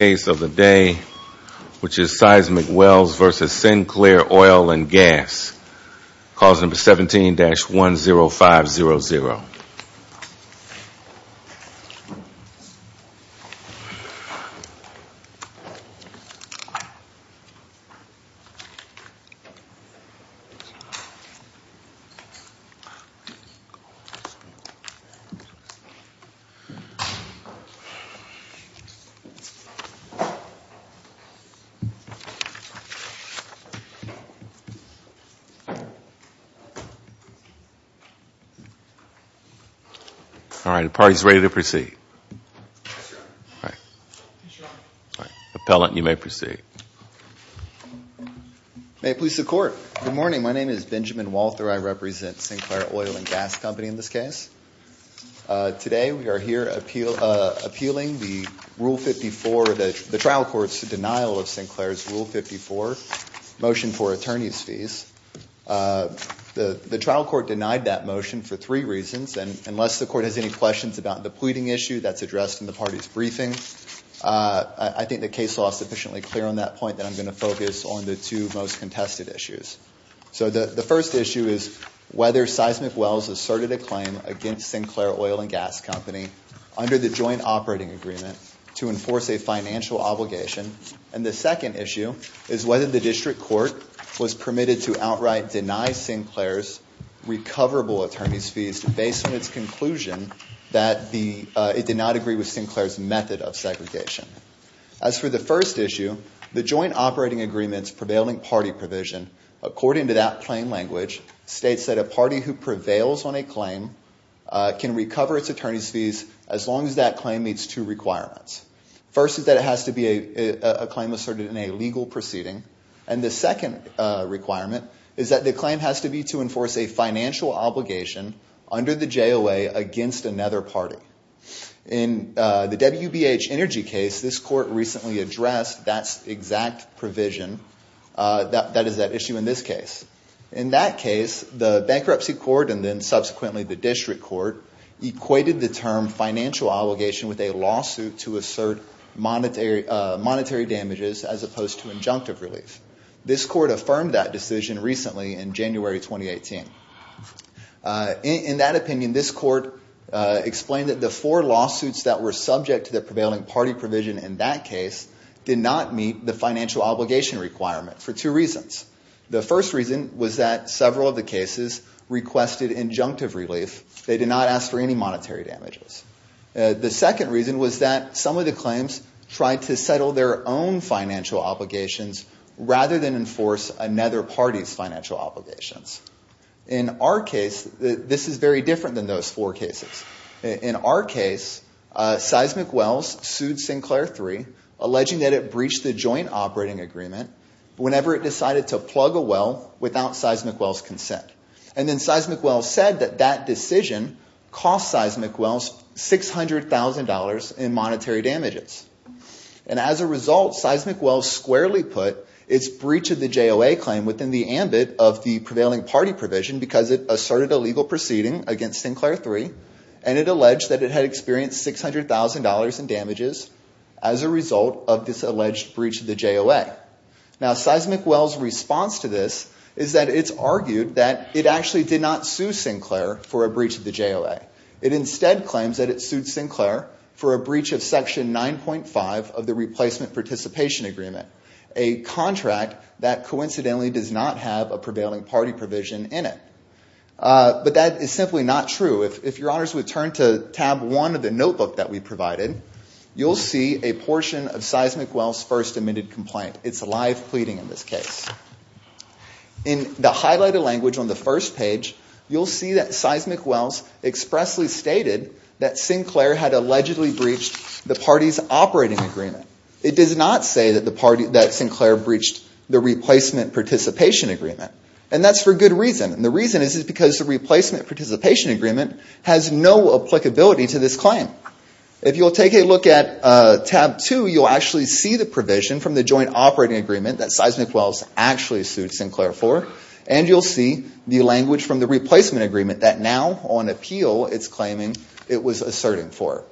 Case of the Day, which is Seismic Wells v. Sinclair Oil and Gas, Clause No. 17-10500. Good morning. My name is Benjamin Walther. I represent Sinclair Oil and Gas Company in this case. Today we are here appealing the trial court's denial of Sinclair's Rule 54 motion for attorney's fees. The trial court denied that motion for three reasons, and unless the court has any questions about the pleading issue that's addressed in the party's briefing, I think the case law is sufficiently clear on that point that I'm going to focus on the two most contested issues. So the first issue is whether Seismic Wells asserted a claim against Sinclair Oil and Gas Company under the joint operating agreement to enforce a financial obligation, and the second issue is whether the district court was permitted to outright deny Sinclair's recoverable attorney's fees based on its conclusion that it did not agree with Sinclair's method of segregation. As for the first issue, the joint operating agreement's prevailing party provision, according to that plain language, states that a party who prevails on a claim can recover its attorney's fees as long as that claim meets two requirements. First is that it has to be a claim asserted in a legal proceeding, and the second requirement is that the claim has to be to enforce a case, this court recently addressed that exact provision that is at issue in this case. In that case, the bankruptcy court and then subsequently the district court equated the term financial obligation with a lawsuit to assert monetary damages as opposed to injunctive relief. This court affirmed that decision recently in January 2018. In that opinion, this court explained that the four lawsuits that were subject to the prevailing party provision in that case did not meet the financial obligation requirement for two reasons. The first reason was that several of the cases requested injunctive relief. They did not ask for any monetary damages. The second reason was that some of the claims tried to settle their own financial obligations rather than enforce another party's financial obligations. In our case, this is very similar. Seismic Wells sued Sinclair III, alleging that it breached the joint operating agreement whenever it decided to plug a well without Seismic Wells' consent. And then Seismic Wells said that that decision cost Seismic Wells $600,000 in monetary damages. And as a result, Seismic Wells squarely put its breach of the JOA claim within the ambit of the prevailing party provision because it asserted a legal proceeding against Sinclair III, and it alleged that it had experienced $600,000 in damages as a result of this alleged breach of the JOA. Now, Seismic Wells' response to this is that it's argued that it actually did not sue Sinclair for a breach of the JOA. It instead claims that it sued Sinclair for a breach of section 9.5 of the replacement participation agreement, a contract that coincidentally does not have a prevailing party provision in it. But that is simply not true. If Your Honors would turn to tab 1 of the notebook that we provided, you'll see a portion of Seismic Wells' first admitted complaint. It's a live pleading in this case. In the highlighted language on the first page, you'll see that Seismic Wells expressly stated that Sinclair had allegedly breached the party's operating agreement. It does not say that Sinclair breached the replacement participation agreement. And that's for good reason. And the reason is because the replacement participation agreement has no applicability to this claim. If you'll take a look at tab 2, you'll actually see the provision from the joint operating agreement that Seismic Wells actually sued Sinclair for, and you'll see the language from the replacement agreement that now, on appeal, it's claiming it was asserting for.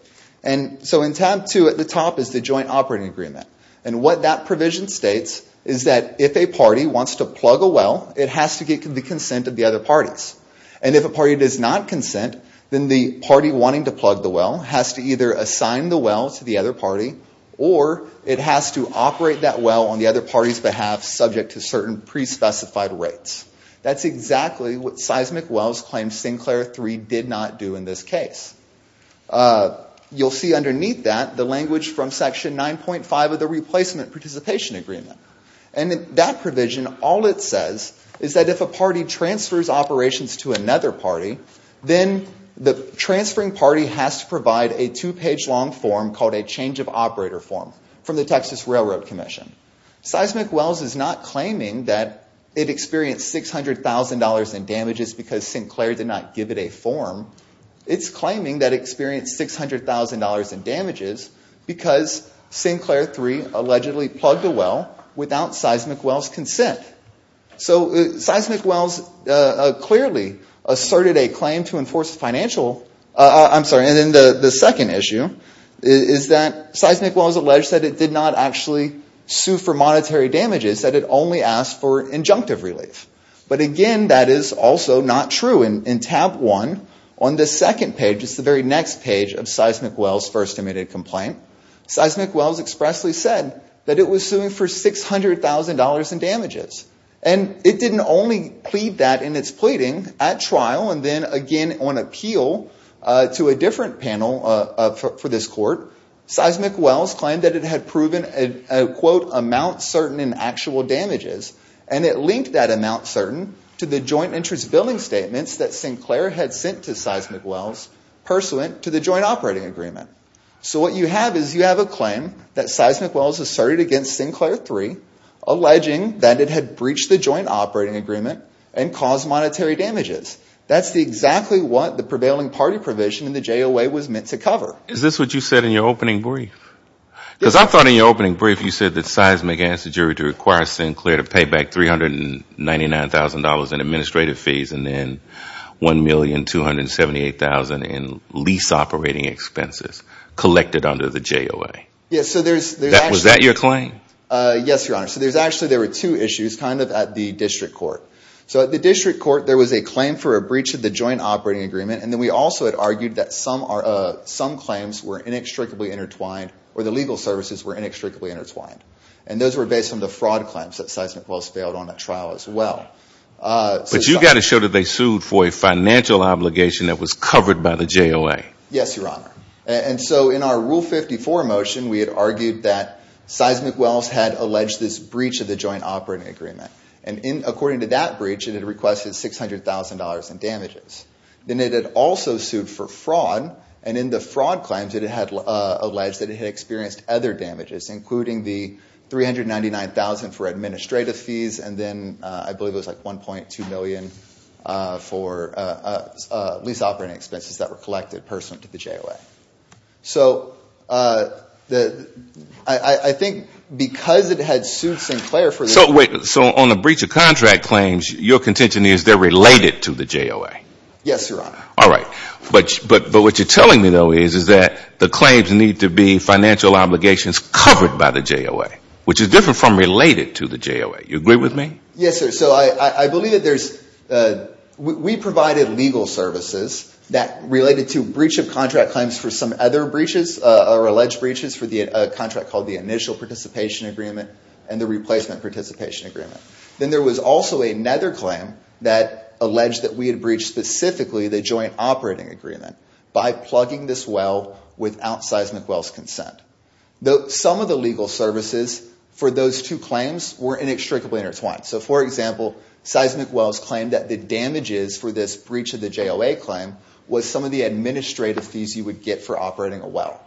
And so in tab 2 at the top is the joint operating agreement. And what that provision states is that if a party wants to plug a well, it has to get the consent of the other parties. And if a party does not consent, then the party wanting to plug the well has to either assign the well to the other party, or it has to operate that well on the other party's behalf subject to certain pre-specified rates. That's exactly what Seismic Wells claims Sinclair 3 did not do in this case. You'll see that in the replacement participation agreement. And in that provision, all it says is that if a party transfers operations to another party, then the transferring party has to provide a two-page long form called a change of operator form from the Texas Railroad Commission. Seismic Wells is not claiming that it experienced $600,000 in damages because Sinclair did not give it a form. It's claiming that it experienced $600,000 in damages because it plugged a well without Seismic Wells' consent. So Seismic Wells clearly asserted a claim to enforce financial, I'm sorry, and then the second issue is that Seismic Wells alleged that it did not actually sue for monetary damages, that it only asked for injunctive relief. But again, that is also not true. And in tab 1 on this second page, it's the very next page of Seismic Wells' first submitted complaint, Seismic Wells expressly said that it was suing for $600,000 in damages. And it didn't only plead that in its pleading, at trial and then again on appeal to a different panel for this court, Seismic Wells claimed that it had proven a, quote, amount certain in actual damages. And it linked that amount certain to the joint interest billing statements that Sinclair had sent to Seismic Wells pursuant to the joint operating agreement. So what you have is you have a claim that Seismic Wells asserted against Sinclair III, alleging that it had breached the joint operating agreement and caused monetary damages. That's exactly what the prevailing party provision in the JOA was meant to cover. Is this what you said in your opening brief? Because I thought in your opening brief, you said that Seismic asked the jury to require Sinclair to pay back $399,000 in administrative fees and then $1,278,000 in lease operating interest. And you said that Seismic asked the jury to cover it by paying expenses collected under the JOA. Was that your claim? Yes, Your Honor, there were actually two issues, kind of at the district court. So the district court, there was a claim for a breach of the joint operating agreement. And then we also had argued that some claims were inextricably intertwined or the legal services were inextricably intertwined. And those were based on the fraud claims that Seismic Wells failed on at trial as well. But you got to show that they sued for a financial obligation that was covered by the JOA. Yes, Your Honor. And so in our Rule 54 motion, we had argued that Seismic Wells had alleged this breach of the joint operating agreement. And according to that breach, it had requested $600,000 in damages. Then it had also sued for fraud. And in the fraud claims, it had alleged that it had experienced other damages, including the $399,000 for administrative fees. And then I believe it was like $1.5 million or $1.2 million for lease operating expenses that were collected personally to the JOA. So I think because it had sued Sinclair for this. So on the breach of contract claims, your contention is they're related to the JOA. Yes, Your Honor. All right. But what you're telling me, though, is that the claims need to be financial obligations covered by the JOA, which is different from related to the JOA. Do you agree with me? Yes, sir. So I believe that there's we provided legal services that related to breach of contract claims for some other breaches or alleged breaches for the contract called the initial participation agreement and the replacement participation agreement. Then there was also another claim that alleged that we had breached specifically the joint operating agreement by plugging this well without Seismic Wells consent. Some of the legal services for those two claims were inextricably intertwined. So, for example, Seismic Wells claimed that the damages for this breach of the JOA claim was some of the administrative fees you would get for operating a well.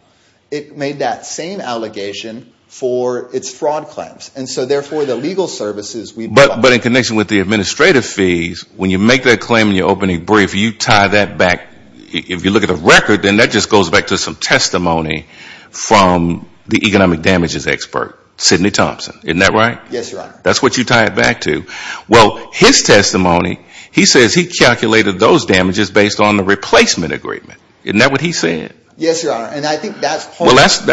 It made that same allegation for its fraud claims. And so, therefore, the legal services we brought upon it. But in connection with the administrative fees, when you make that claim in your opening brief, you tie that back. If you look at the testimony from the economic damages expert, Sidney Thompson, isn't that right? Yes, Your Honor. That's what you tie it back to. Well, his testimony, he says he calculated those damages based on the replacement agreement. Isn't that what he said? Yes, Your Honor. And I think that's part of it. Part of what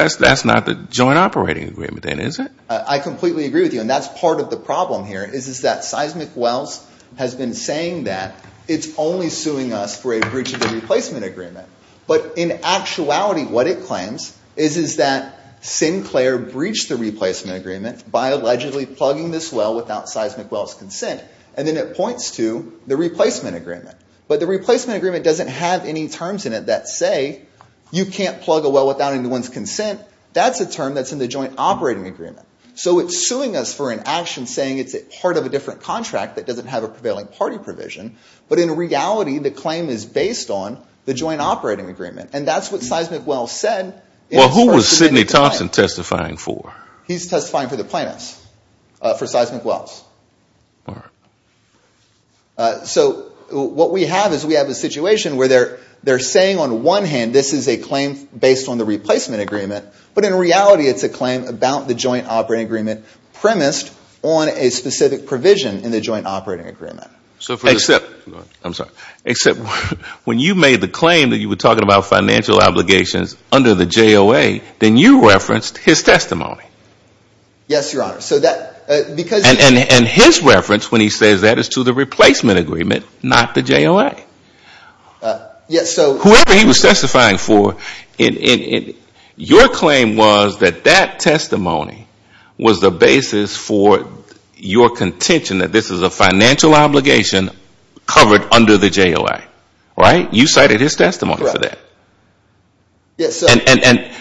it claims is that Sinclair breached the replacement agreement by allegedly plugging this well without Seismic Wells consent. And then it points to the replacement agreement. But the replacement agreement doesn't have any terms in it that say, you can't plug a well without anyone's consent. That's a term that's in the joint operating agreement. So it's suing us for an action saying it's part of a different contract that doesn't have a prevailing party provision. But in reality, the claim is based on the joint operating agreement. And that's what Seismic Wells said. Well, who was Sidney Thompson testifying for? He's testifying for the plaintiffs, for Seismic Wells. All right. So what we have is we have a situation where they're saying on one hand, this is a claim based on the replacement agreement. But in reality, it's a claim about the joint operating agreement premised on a specific provision in the joint operating agreement. Except when you made the claim that you were talking about financial obligations under the JOA, then you referenced his testimony. Yes, Your Honor. And his reference when he says that is to the replacement agreement, not the JOA. Yes. Whoever he was testifying for, your claim was that that testimony was the basis for your contention that this is a financial obligation covered under the JOA, right? You cited his testimony for that. Correct.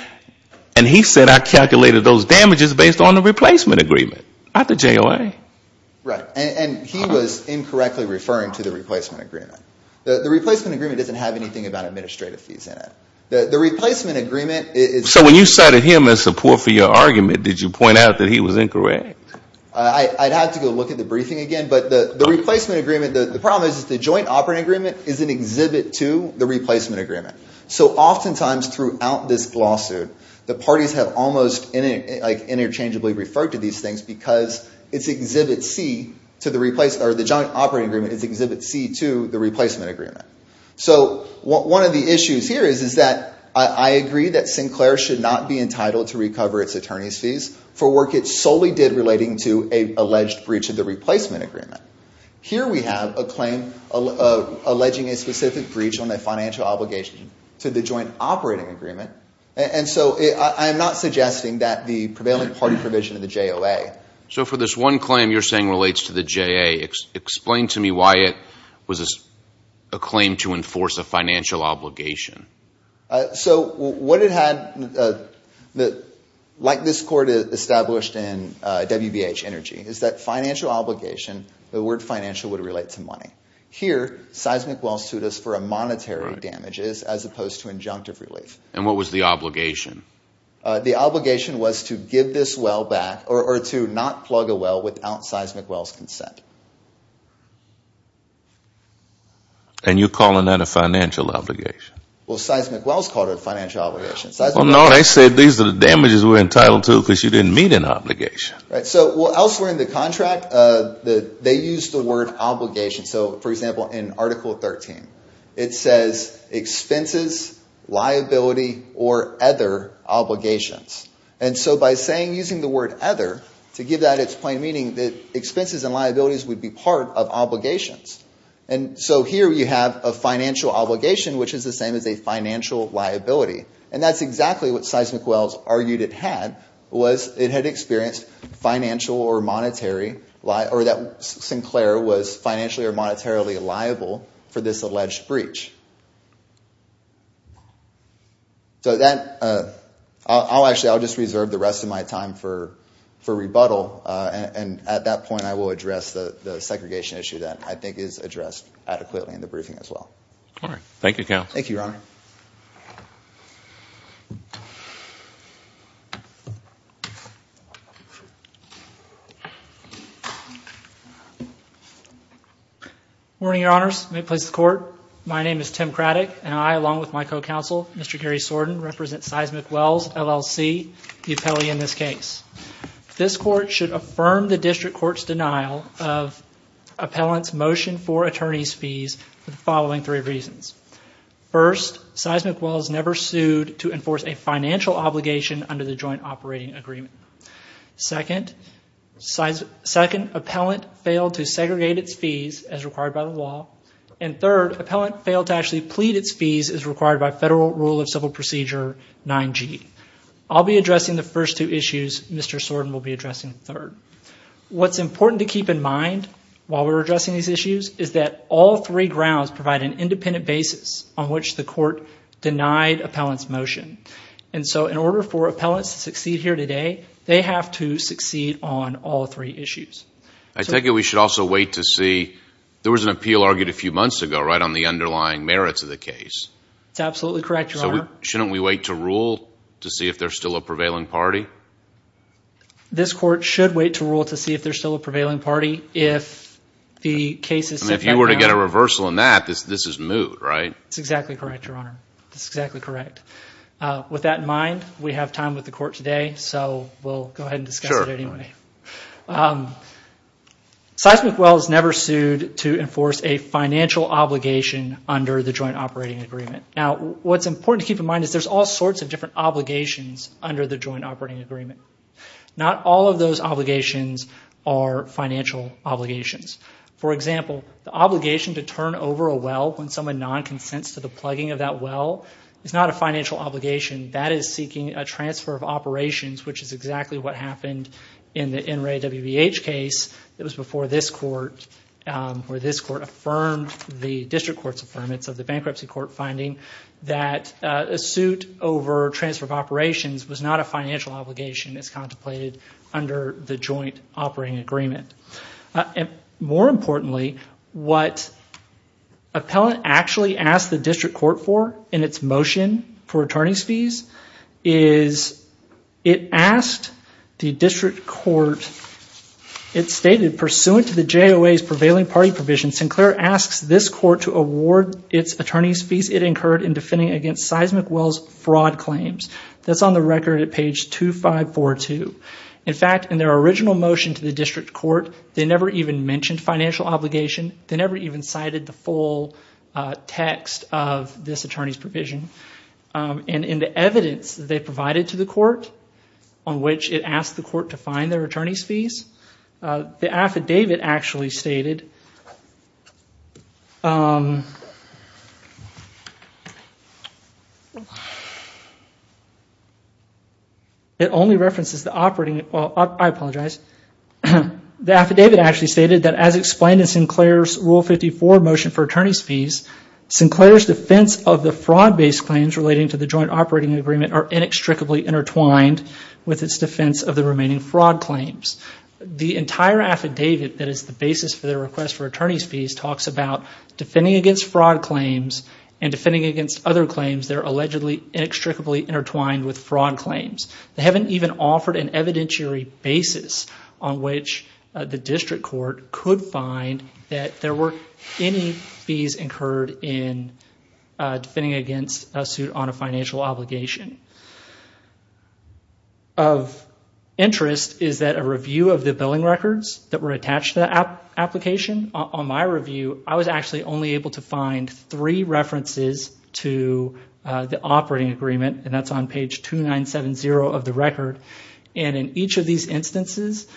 And he said I calculated those damages based on the replacement agreement, not the JOA. Right. And he was incorrectly referring to the replacement agreement. The replacement agreement doesn't have anything about administrative fees in it. The replacement agreement is... So when you cited him as support for your argument, did you point out that he was incorrect? I'd have to go look at the briefing again, but the replacement agreement, the problem is the joint operating agreement is an exhibit to the replacement agreement. So oftentimes throughout this lawsuit, the parties have almost interchangeably referred to these things because it's exhibit C to the replacement, or the joint operating agreement is exhibit C to the replacement agreement. So one of the issues here is that I agree that Sinclair should not be entitled to recover its attorney's fees for work it solely did relating to an alleged breach of the replacement agreement. Here we have a claim alleging a specific breach on a financial obligation to the joint operating agreement. And so I am not suggesting that the prevailing party provision of the JOA... So for this one claim you're saying relates to the JOA, explain to me why it was a claim to enforce a financial obligation. So what it had... Like this court established in WBH Energy, is that financial obligation, the word financial would relate to money. Here, Seismic Wells sued us for a monetary damages as opposed to injunctive relief. And what was the obligation? The obligation was to give this well back, or to not plug a well without Seismic Wells' consent. And you're calling that a financial obligation? Well, Seismic Wells called it a financial obligation. Well, no, they said these are the damages we're entitled to because you didn't meet an obligation. Right, so elsewhere in the contract, they used the word obligation. So, for example, in Article 13, it says expenses, liability, or other obligations. And so by saying, using the word other, to give that its plain meaning, that expenses and liabilities would be part of obligations. And so here you have a financial obligation, which is the same as a financial liability. And that's exactly what Seismic Wells argued it had, was it had experienced financial or monetary... or that Sinclair was financially or monetarily liable for this alleged breach. So that... I'll actually just reserve the rest of my time for rebuttal, and at that point I will address the segregation issue that I think is addressed adequately in the briefing as well. Thank you, Your Honor. Morning, Your Honors. May it please the Court. My name is Tim Craddick, and I, along with my co-counsel, Mr. Gary Sorden, represent Seismic Wells, LLC, the appellee in this case. This Court should affirm the District Court's denial of appellant's motion for attorney's fees for the following three reasons. First, Seismic Wells never sued to enforce a financial obligation under the Joint Operating Agreement. Second, appellant failed to segregate its fees as required by the law. And third, appellant failed to actually plead its fees as required by Federal Rule of Civil Procedure 9G. I'll be addressing the first two issues. Mr. Sorden will be addressing the third. What's important to keep in mind while we're addressing these issues is that all three grounds provide an independent basis on which the Court denied appellant's motion. And so in order for appellants to succeed here today, they have to succeed on all three issues. I take it we should also wait to see... There was an appeal argued a few months ago, right, on the underlying merits of the case. It's absolutely correct, Your Honor. So shouldn't we wait to rule to see if there's still a prevailing party? This Court should wait to rule to see if there's still a prevailing party if the case is set... I mean, if you were to get a reversal in that, this is moot, right? It's exactly correct, Your Honor. It's exactly correct. With that in mind, we have time with the Court today, so we'll go ahead and discuss it anyway. Sure. Seismic Wells never sued to enforce a financial obligation under the Joint Operating Agreement. Now, what's important to keep in mind is there's all sorts of different obligations under the Joint Operating Agreement. Not all of those obligations are financial obligations. For example, the obligation to turn over a well when someone non-consents to the plugging of that well is not a financial obligation. That is seeking a transfer of operations, which is exactly what happened in the NRA WBH case that was before this Court, where this Court affirmed the finding that a suit over transfer of operations was not a financial obligation as contemplated under the Joint Operating Agreement. More importantly, what appellant actually asked the District Court for in its motion for attorney's fees is it asked the District Court, it stated pursuant to the JOA's prevailing party provision, Sinclair asks this Court to award its attorney's fees it incurred in defending against Seismic Wells fraud claims. That's on the record at page 2542. In fact, in their original motion to the District Court, they never even mentioned financial obligation. They never even cited the full text of this attorney's provision. And in the evidence that they provided to the Court, on which it asked the Court to fine their attorney's fees, the affidavit actually stated um it only references the operating, well I apologize the affidavit actually stated that as explained in Sinclair's Rule 54 motion for attorney's fees, Sinclair's defense of the fraud based claims relating to the Joint Operating Agreement are inextricably intertwined with its defense of the remaining fraud claims. The entire affidavit that is the basis for their request for attorney's fees talks about defending against fraud claims and defending against other claims that are allegedly inextricably intertwined with fraud claims. They haven't even offered an evidentiary basis on which the District Court could find that there were any fees incurred in defending against a suit on a financial obligation. Of interest is that a review of the billing records that were attached to the application, on my review I was actually only able to find three references to the operating agreement, and that's on page 2970 of the record. And in each of these instances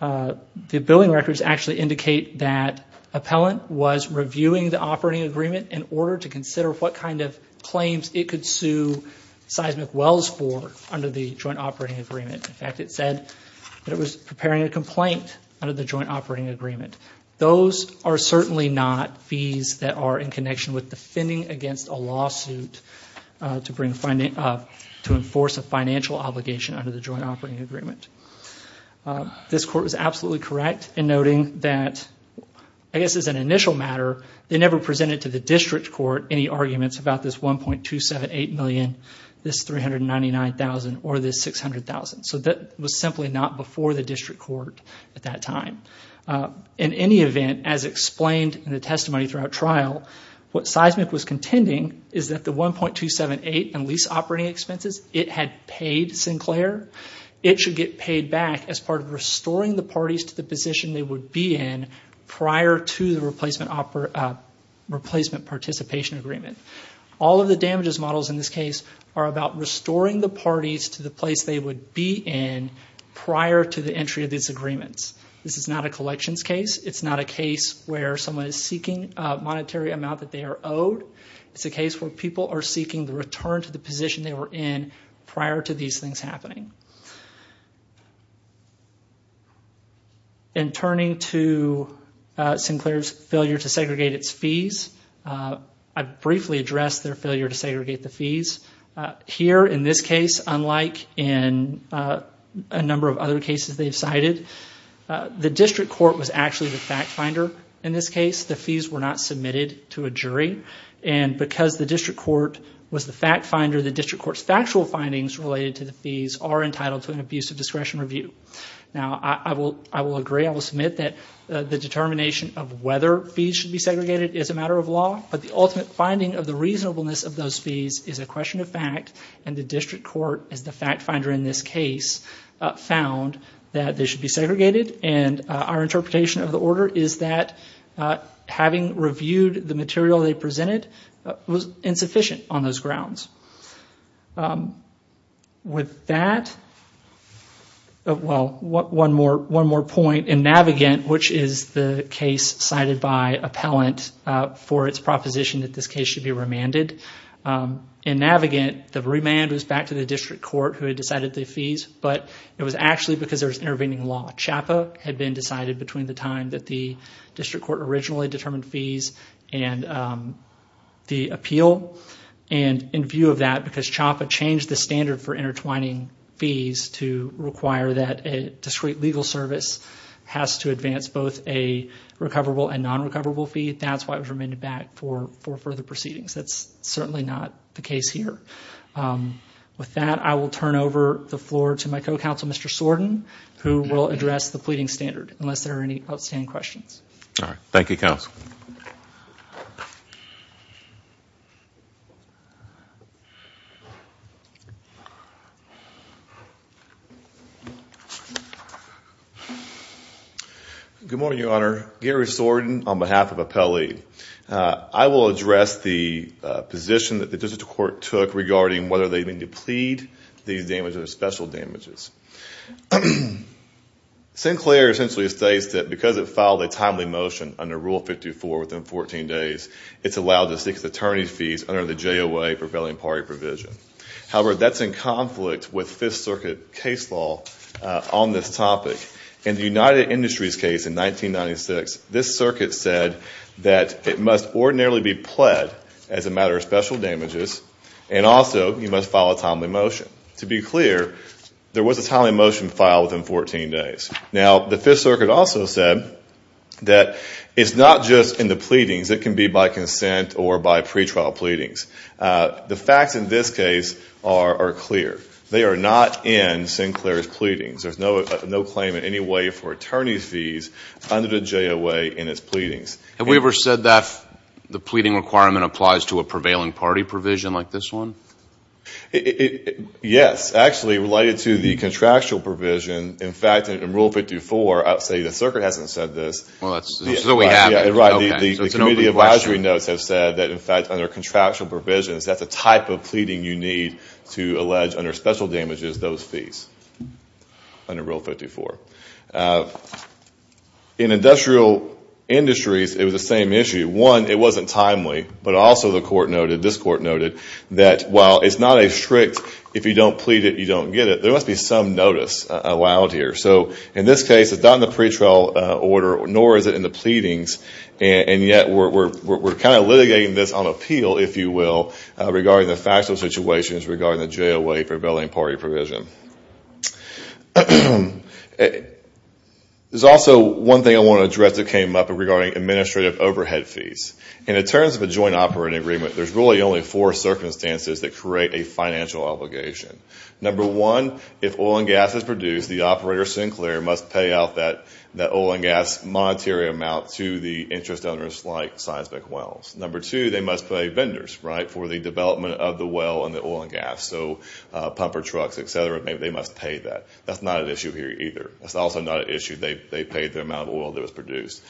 the billing records actually indicate that Appellant was reviewing the operating agreement in order to consider what kind of claims it could sue Seismic Wells for under the Joint Operating Agreement. In fact, it said that it was preparing a complaint under the Joint Operating Agreement. Those are certainly not fees that are in connection with defending against a lawsuit to enforce a financial obligation under the Joint Operating Agreement. This Court was absolutely correct in noting that I guess as an initial matter, they never presented to the District Court any arguments about this $1.278 million, this $399,000 or this $600,000. So that was simply not before the District Court at that time. In any event, as explained in the testimony throughout trial, what Seismic was contending is that the $1.278 in lease operating expenses, it had paid Sinclair. It should get paid back as part of restoring the parties to the position they would be in prior to the replacement participation agreement. All of the damages models in this case are about restoring the parties to the place they would be in prior to the entry of these agreements. This is not a collections case. It's not a case where someone is seeking a monetary amount that they are owed. It's a case where people are seeking the return to the position they were in prior to these things happening. In turning to Sinclair's failure to segregate its fees, I briefly addressed their failure to segregate the fees. Here, in this case, unlike in a number of other cases they've cited, the District Court was actually the fact finder in this case. The fees were not submitted to a jury. Because the District Court was the fact finder, the District Court's factual findings related to the fees are entitled to an abuse of discretion review. I will agree, I will submit that the determination of whether fees should be segregated is a matter of law, but the ultimate finding of the reasonableness of those fees is a question of fact and the District Court, as the fact finder in this case, found that they should be segregated. Our interpretation of the order is that having reviewed the material they presented was insufficient on those grounds. One more point in Navigant, which is the case cited by the proposition that this case should be remanded. In Navigant, the remand was back to the District Court who had decided the fees, but it was actually because there was intervening law. CHAPA had been decided between the time that the District Court originally determined fees and the appeal. In view of that, because CHAPA changed the standard for intertwining fees to require that a discrete legal service has to advance both a recoverable and non-recoverable fee, that's why it was remanded back for further proceedings. That's certainly not the case here. With that, I will turn over the floor to my co-counsel, Mr. Sorden, who will address the pleading standard. Unless there are any outstanding questions. Thank you, Counsel. Good morning, Your Honor. Gary Sorden, on behalf of AppellE. I will address the position that the District Court took regarding whether they need to plead these damages as special damages. Sinclair essentially states that because it filed a timely motion under Rule 54 within 14 days, it's allowed to seek the attorney's fees under the JOA, prevailing party provision. However, that's in conflict with Fifth Circuit case law on this topic. In the United Industries case in 1996, this circuit said that it must ordinarily be pled as a matter of special damages, and also you must file a timely motion. To be clear, there was a timely motion filed within 14 days. Now, the Fifth Circuit also said that it's not just in the pleadings, it can be by consent or by pretrial pleadings. The facts in this case are clear. They are not in Sinclair's pleadings. There's no claim in any way for attorney's fees under the JOA in its pleadings. Have we ever said that the pleading requirement applies to a prevailing party provision like this one? Yes, actually related to the contractual provision, in fact in Rule 54 the circuit hasn't said this. The advisory notes have said that in fact under contractual provisions, that's the type of pleading you need to allege under special damages those fees. Under Rule 54. In industrial industries, it was the same issue. One, it wasn't timely, but also the court noted, this court noted, that while it's not a strict, if you don't plead it, you don't get it, there must be some notice allowed here. In this case, it's not in the pretrial order, nor is it in the pleadings, and yet we're kind of litigating this on appeal, if you will, regarding the factual situations regarding the JOA prevailing party provision. There's also one thing I want to address that came up regarding administrative overhead fees. In terms of a joint operating agreement, there's really only four areas of financial obligation. Number one, if oil and gas is produced, the operator, Sinclair, must pay out that oil and gas monetary amount to the interest owners like Science Bank Wells. Number two, they must pay vendors, right, for the development of the well and the oil and gas. So pumper trucks, et cetera, they must pay that. That's not an issue here either. That's also not an issue. They pay the amount of oil that was produced.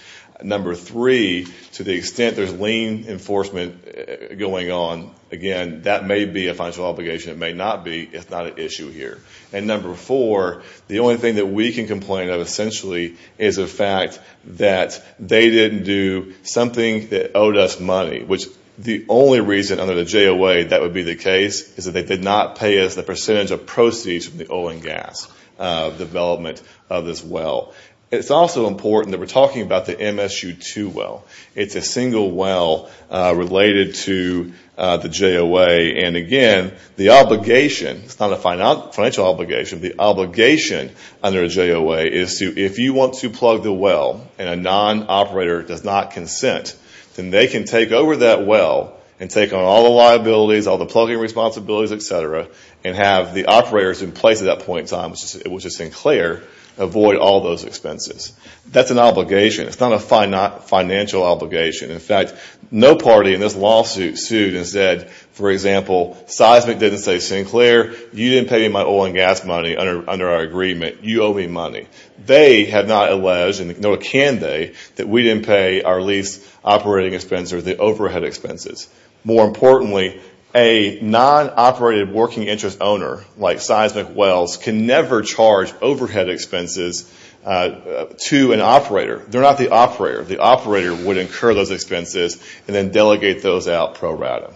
Number three, to the extent there's lien enforcement going on, again, that may be a financial obligation. It may not be. It's not an issue here. And number four, the only thing that we can complain of essentially is the fact that they didn't do something that owed us money, which the only reason under the JOA that would be the case is that they did not pay us the percentage of proceeds from the oil and gas development of this well. It's also important that we're talking about the MSU2 well. It's a single well related to the JOA. And again, the obligation, it's not a financial obligation, the obligation under a JOA is if you want to plug the well and a non-operator does not consent, then they can take over that well and take on all the liabilities, all the plugging responsibilities, et cetera, and have the operators in place at that point in time, which is Sinclair, avoid all those expenses. That's an obligation. It's not a financial obligation. In fact, no party in this lawsuit sued and said, for example, Seismic didn't say, Sinclair, you didn't pay me my oil and gas money under our agreement. You owe me money. They have not alleged, nor can they, that we didn't pay our lease operating expenses or the overhead expenses. More importantly, a non-operated working interest owner like Seismic Wells can never charge overhead expenses to an operator. They're not the operator. The operator would incur those expenses and then delegate those out pro rata.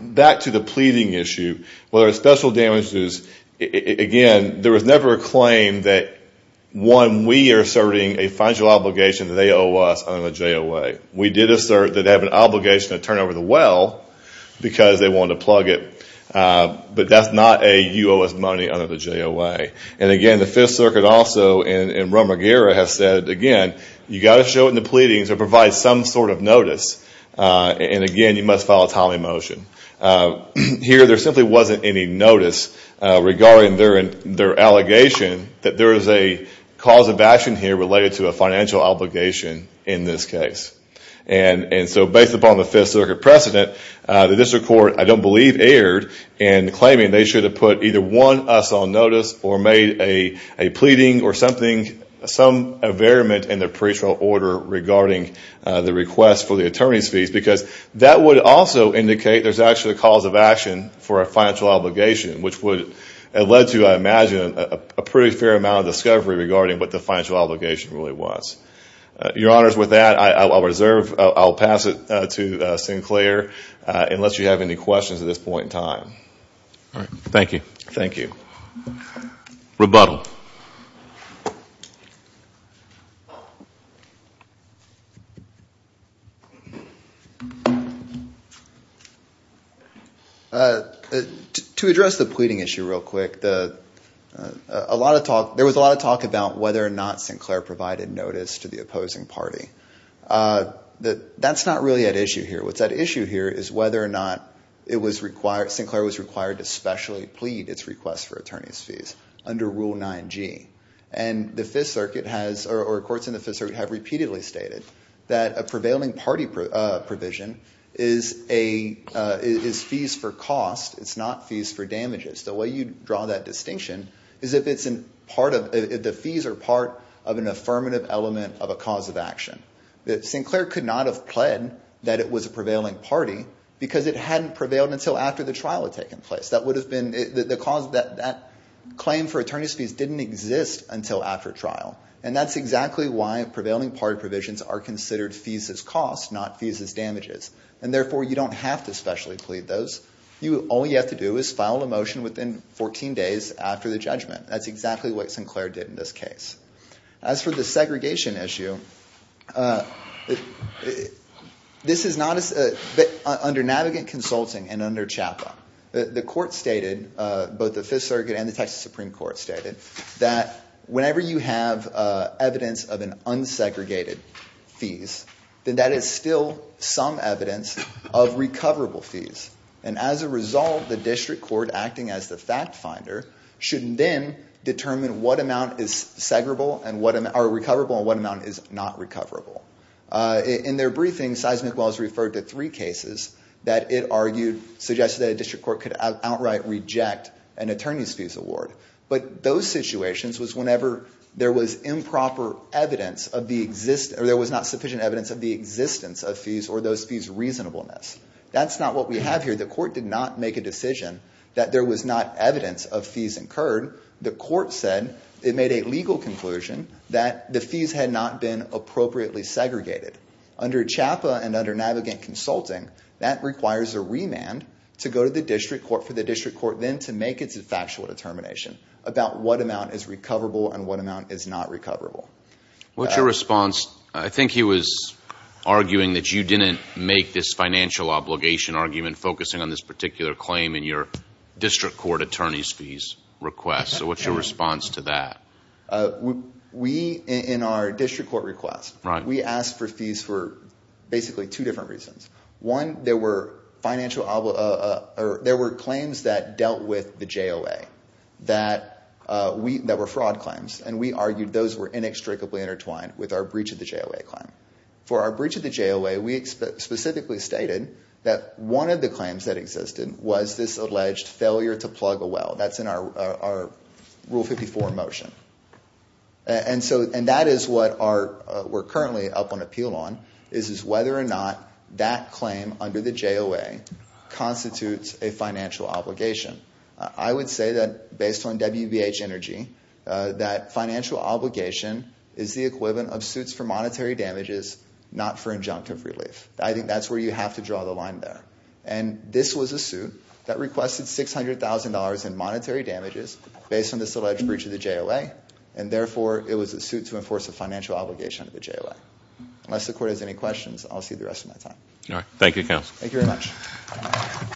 Back to the pleading issue, whether it's special damages, again, there was never a claim that, one, we are asserting a financial obligation that they owe us under the JOA. We did assert that they have an obligation to turn over the well because they wanted to plug it, but that's not a you owe us money under the JOA. And again, the Fifth Circuit also, and Ron McGarrett has said, again, you've got to show it in the pleadings or provide some sort of notice. And again, you must file a timely motion. Here, there simply wasn't any notice regarding their allegation that there is a cause of action here related to a financial obligation in this case. And so, based upon the Fifth Circuit precedent, the District Court, I don't believe, erred in claiming they should have put either one us on notice or made a pleading or something some variament in the pre-trial order regarding the request for the attorney's fees because that would also indicate there's actually a cause of action for a financial obligation, which would have led to, I imagine, a pretty fair amount of discovery regarding what the financial obligation really was. Your Honors, with that, I'll reserve, I'll pass it to Sinclair, unless you have any questions at this point in time. Thank you. Thank you. Rebuttal. To address the pleading issue real quick, there was a lot of talk about whether or not Sinclair provided notice to the opposing party. That's not really at issue here. What's at issue here is whether or not Sinclair was required to specially plead its request for attorney's fees under Rule 9G. And the Fifth Circuit has, or courts in the Fifth Circuit have repeatedly stated that a prevailing party provision is fees for cost, it's not fees for damages. The way you draw that distinction is if it's part of the fees are part of an affirmative element of a cause of action. Sinclair could not have pled that it was a prevailing party provision because it hadn't prevailed until after the trial had taken place. That claim for attorney's fees didn't exist until after trial. And that's exactly why prevailing party provisions are considered fees as cost, not fees as damages. And therefore, you don't have to specially plead those. All you have to do is file a motion within 14 days after the judgment. That's exactly what Sinclair did in this case. As for the segregation issue, this is not under Navigant Consulting and under CHAPA. The court stated both the Fifth Circuit and the Texas Supreme Court stated that whenever you have evidence of an unsegregated fees, then that is still some evidence of recoverable fees. And as a result, the district court acting as the fact finder should then determine what amount is not recoverable. In their briefing, Sizemore-Wells referred to three cases that it argued, suggested that a district court could outright reject an attorney's fees award. But those situations was whenever there was improper evidence of the existence, or there was not sufficient evidence of the existence of fees or those fees reasonableness. That's not what we have here. The court did not make a decision that there was not evidence of fees incurred. The court said, it made a legal conclusion that the fees had not been appropriately segregated. Under CHAPA and under Navigant Consulting, that requires a remand to go to the district court for the district court then to make its factual determination about what amount is recoverable and what amount is not recoverable. What's your response? I think he was arguing that you didn't make this financial obligation argument focusing on this particular claim in your district court attorney's fees request. So what's your response to that? We, in our district court request we asked for fees for basically two different reasons. One there were claims that dealt with the JOA that were fraud claims. We argued those were inextricably intertwined with our breach of the JOA claim. For our breach of the JOA, we specifically stated that one That's in our Rule 54 motion. And that is what we're currently up on appeal on is whether or not that claim under the JOA constitutes a financial obligation. I would say that based on WVH Energy, that financial obligation is the equivalent of suits for monetary damages, not for injunctive relief. I think that's where you have to draw the line there. And this was a suit that requested $600,000 in monetary damages based on this alleged breach of the JOA. And therefore, it was a suit to enforce a financial obligation under the JOA. Unless the court has any questions, I'll see you the rest of my time. Thank you, Counsel. Thank you very much.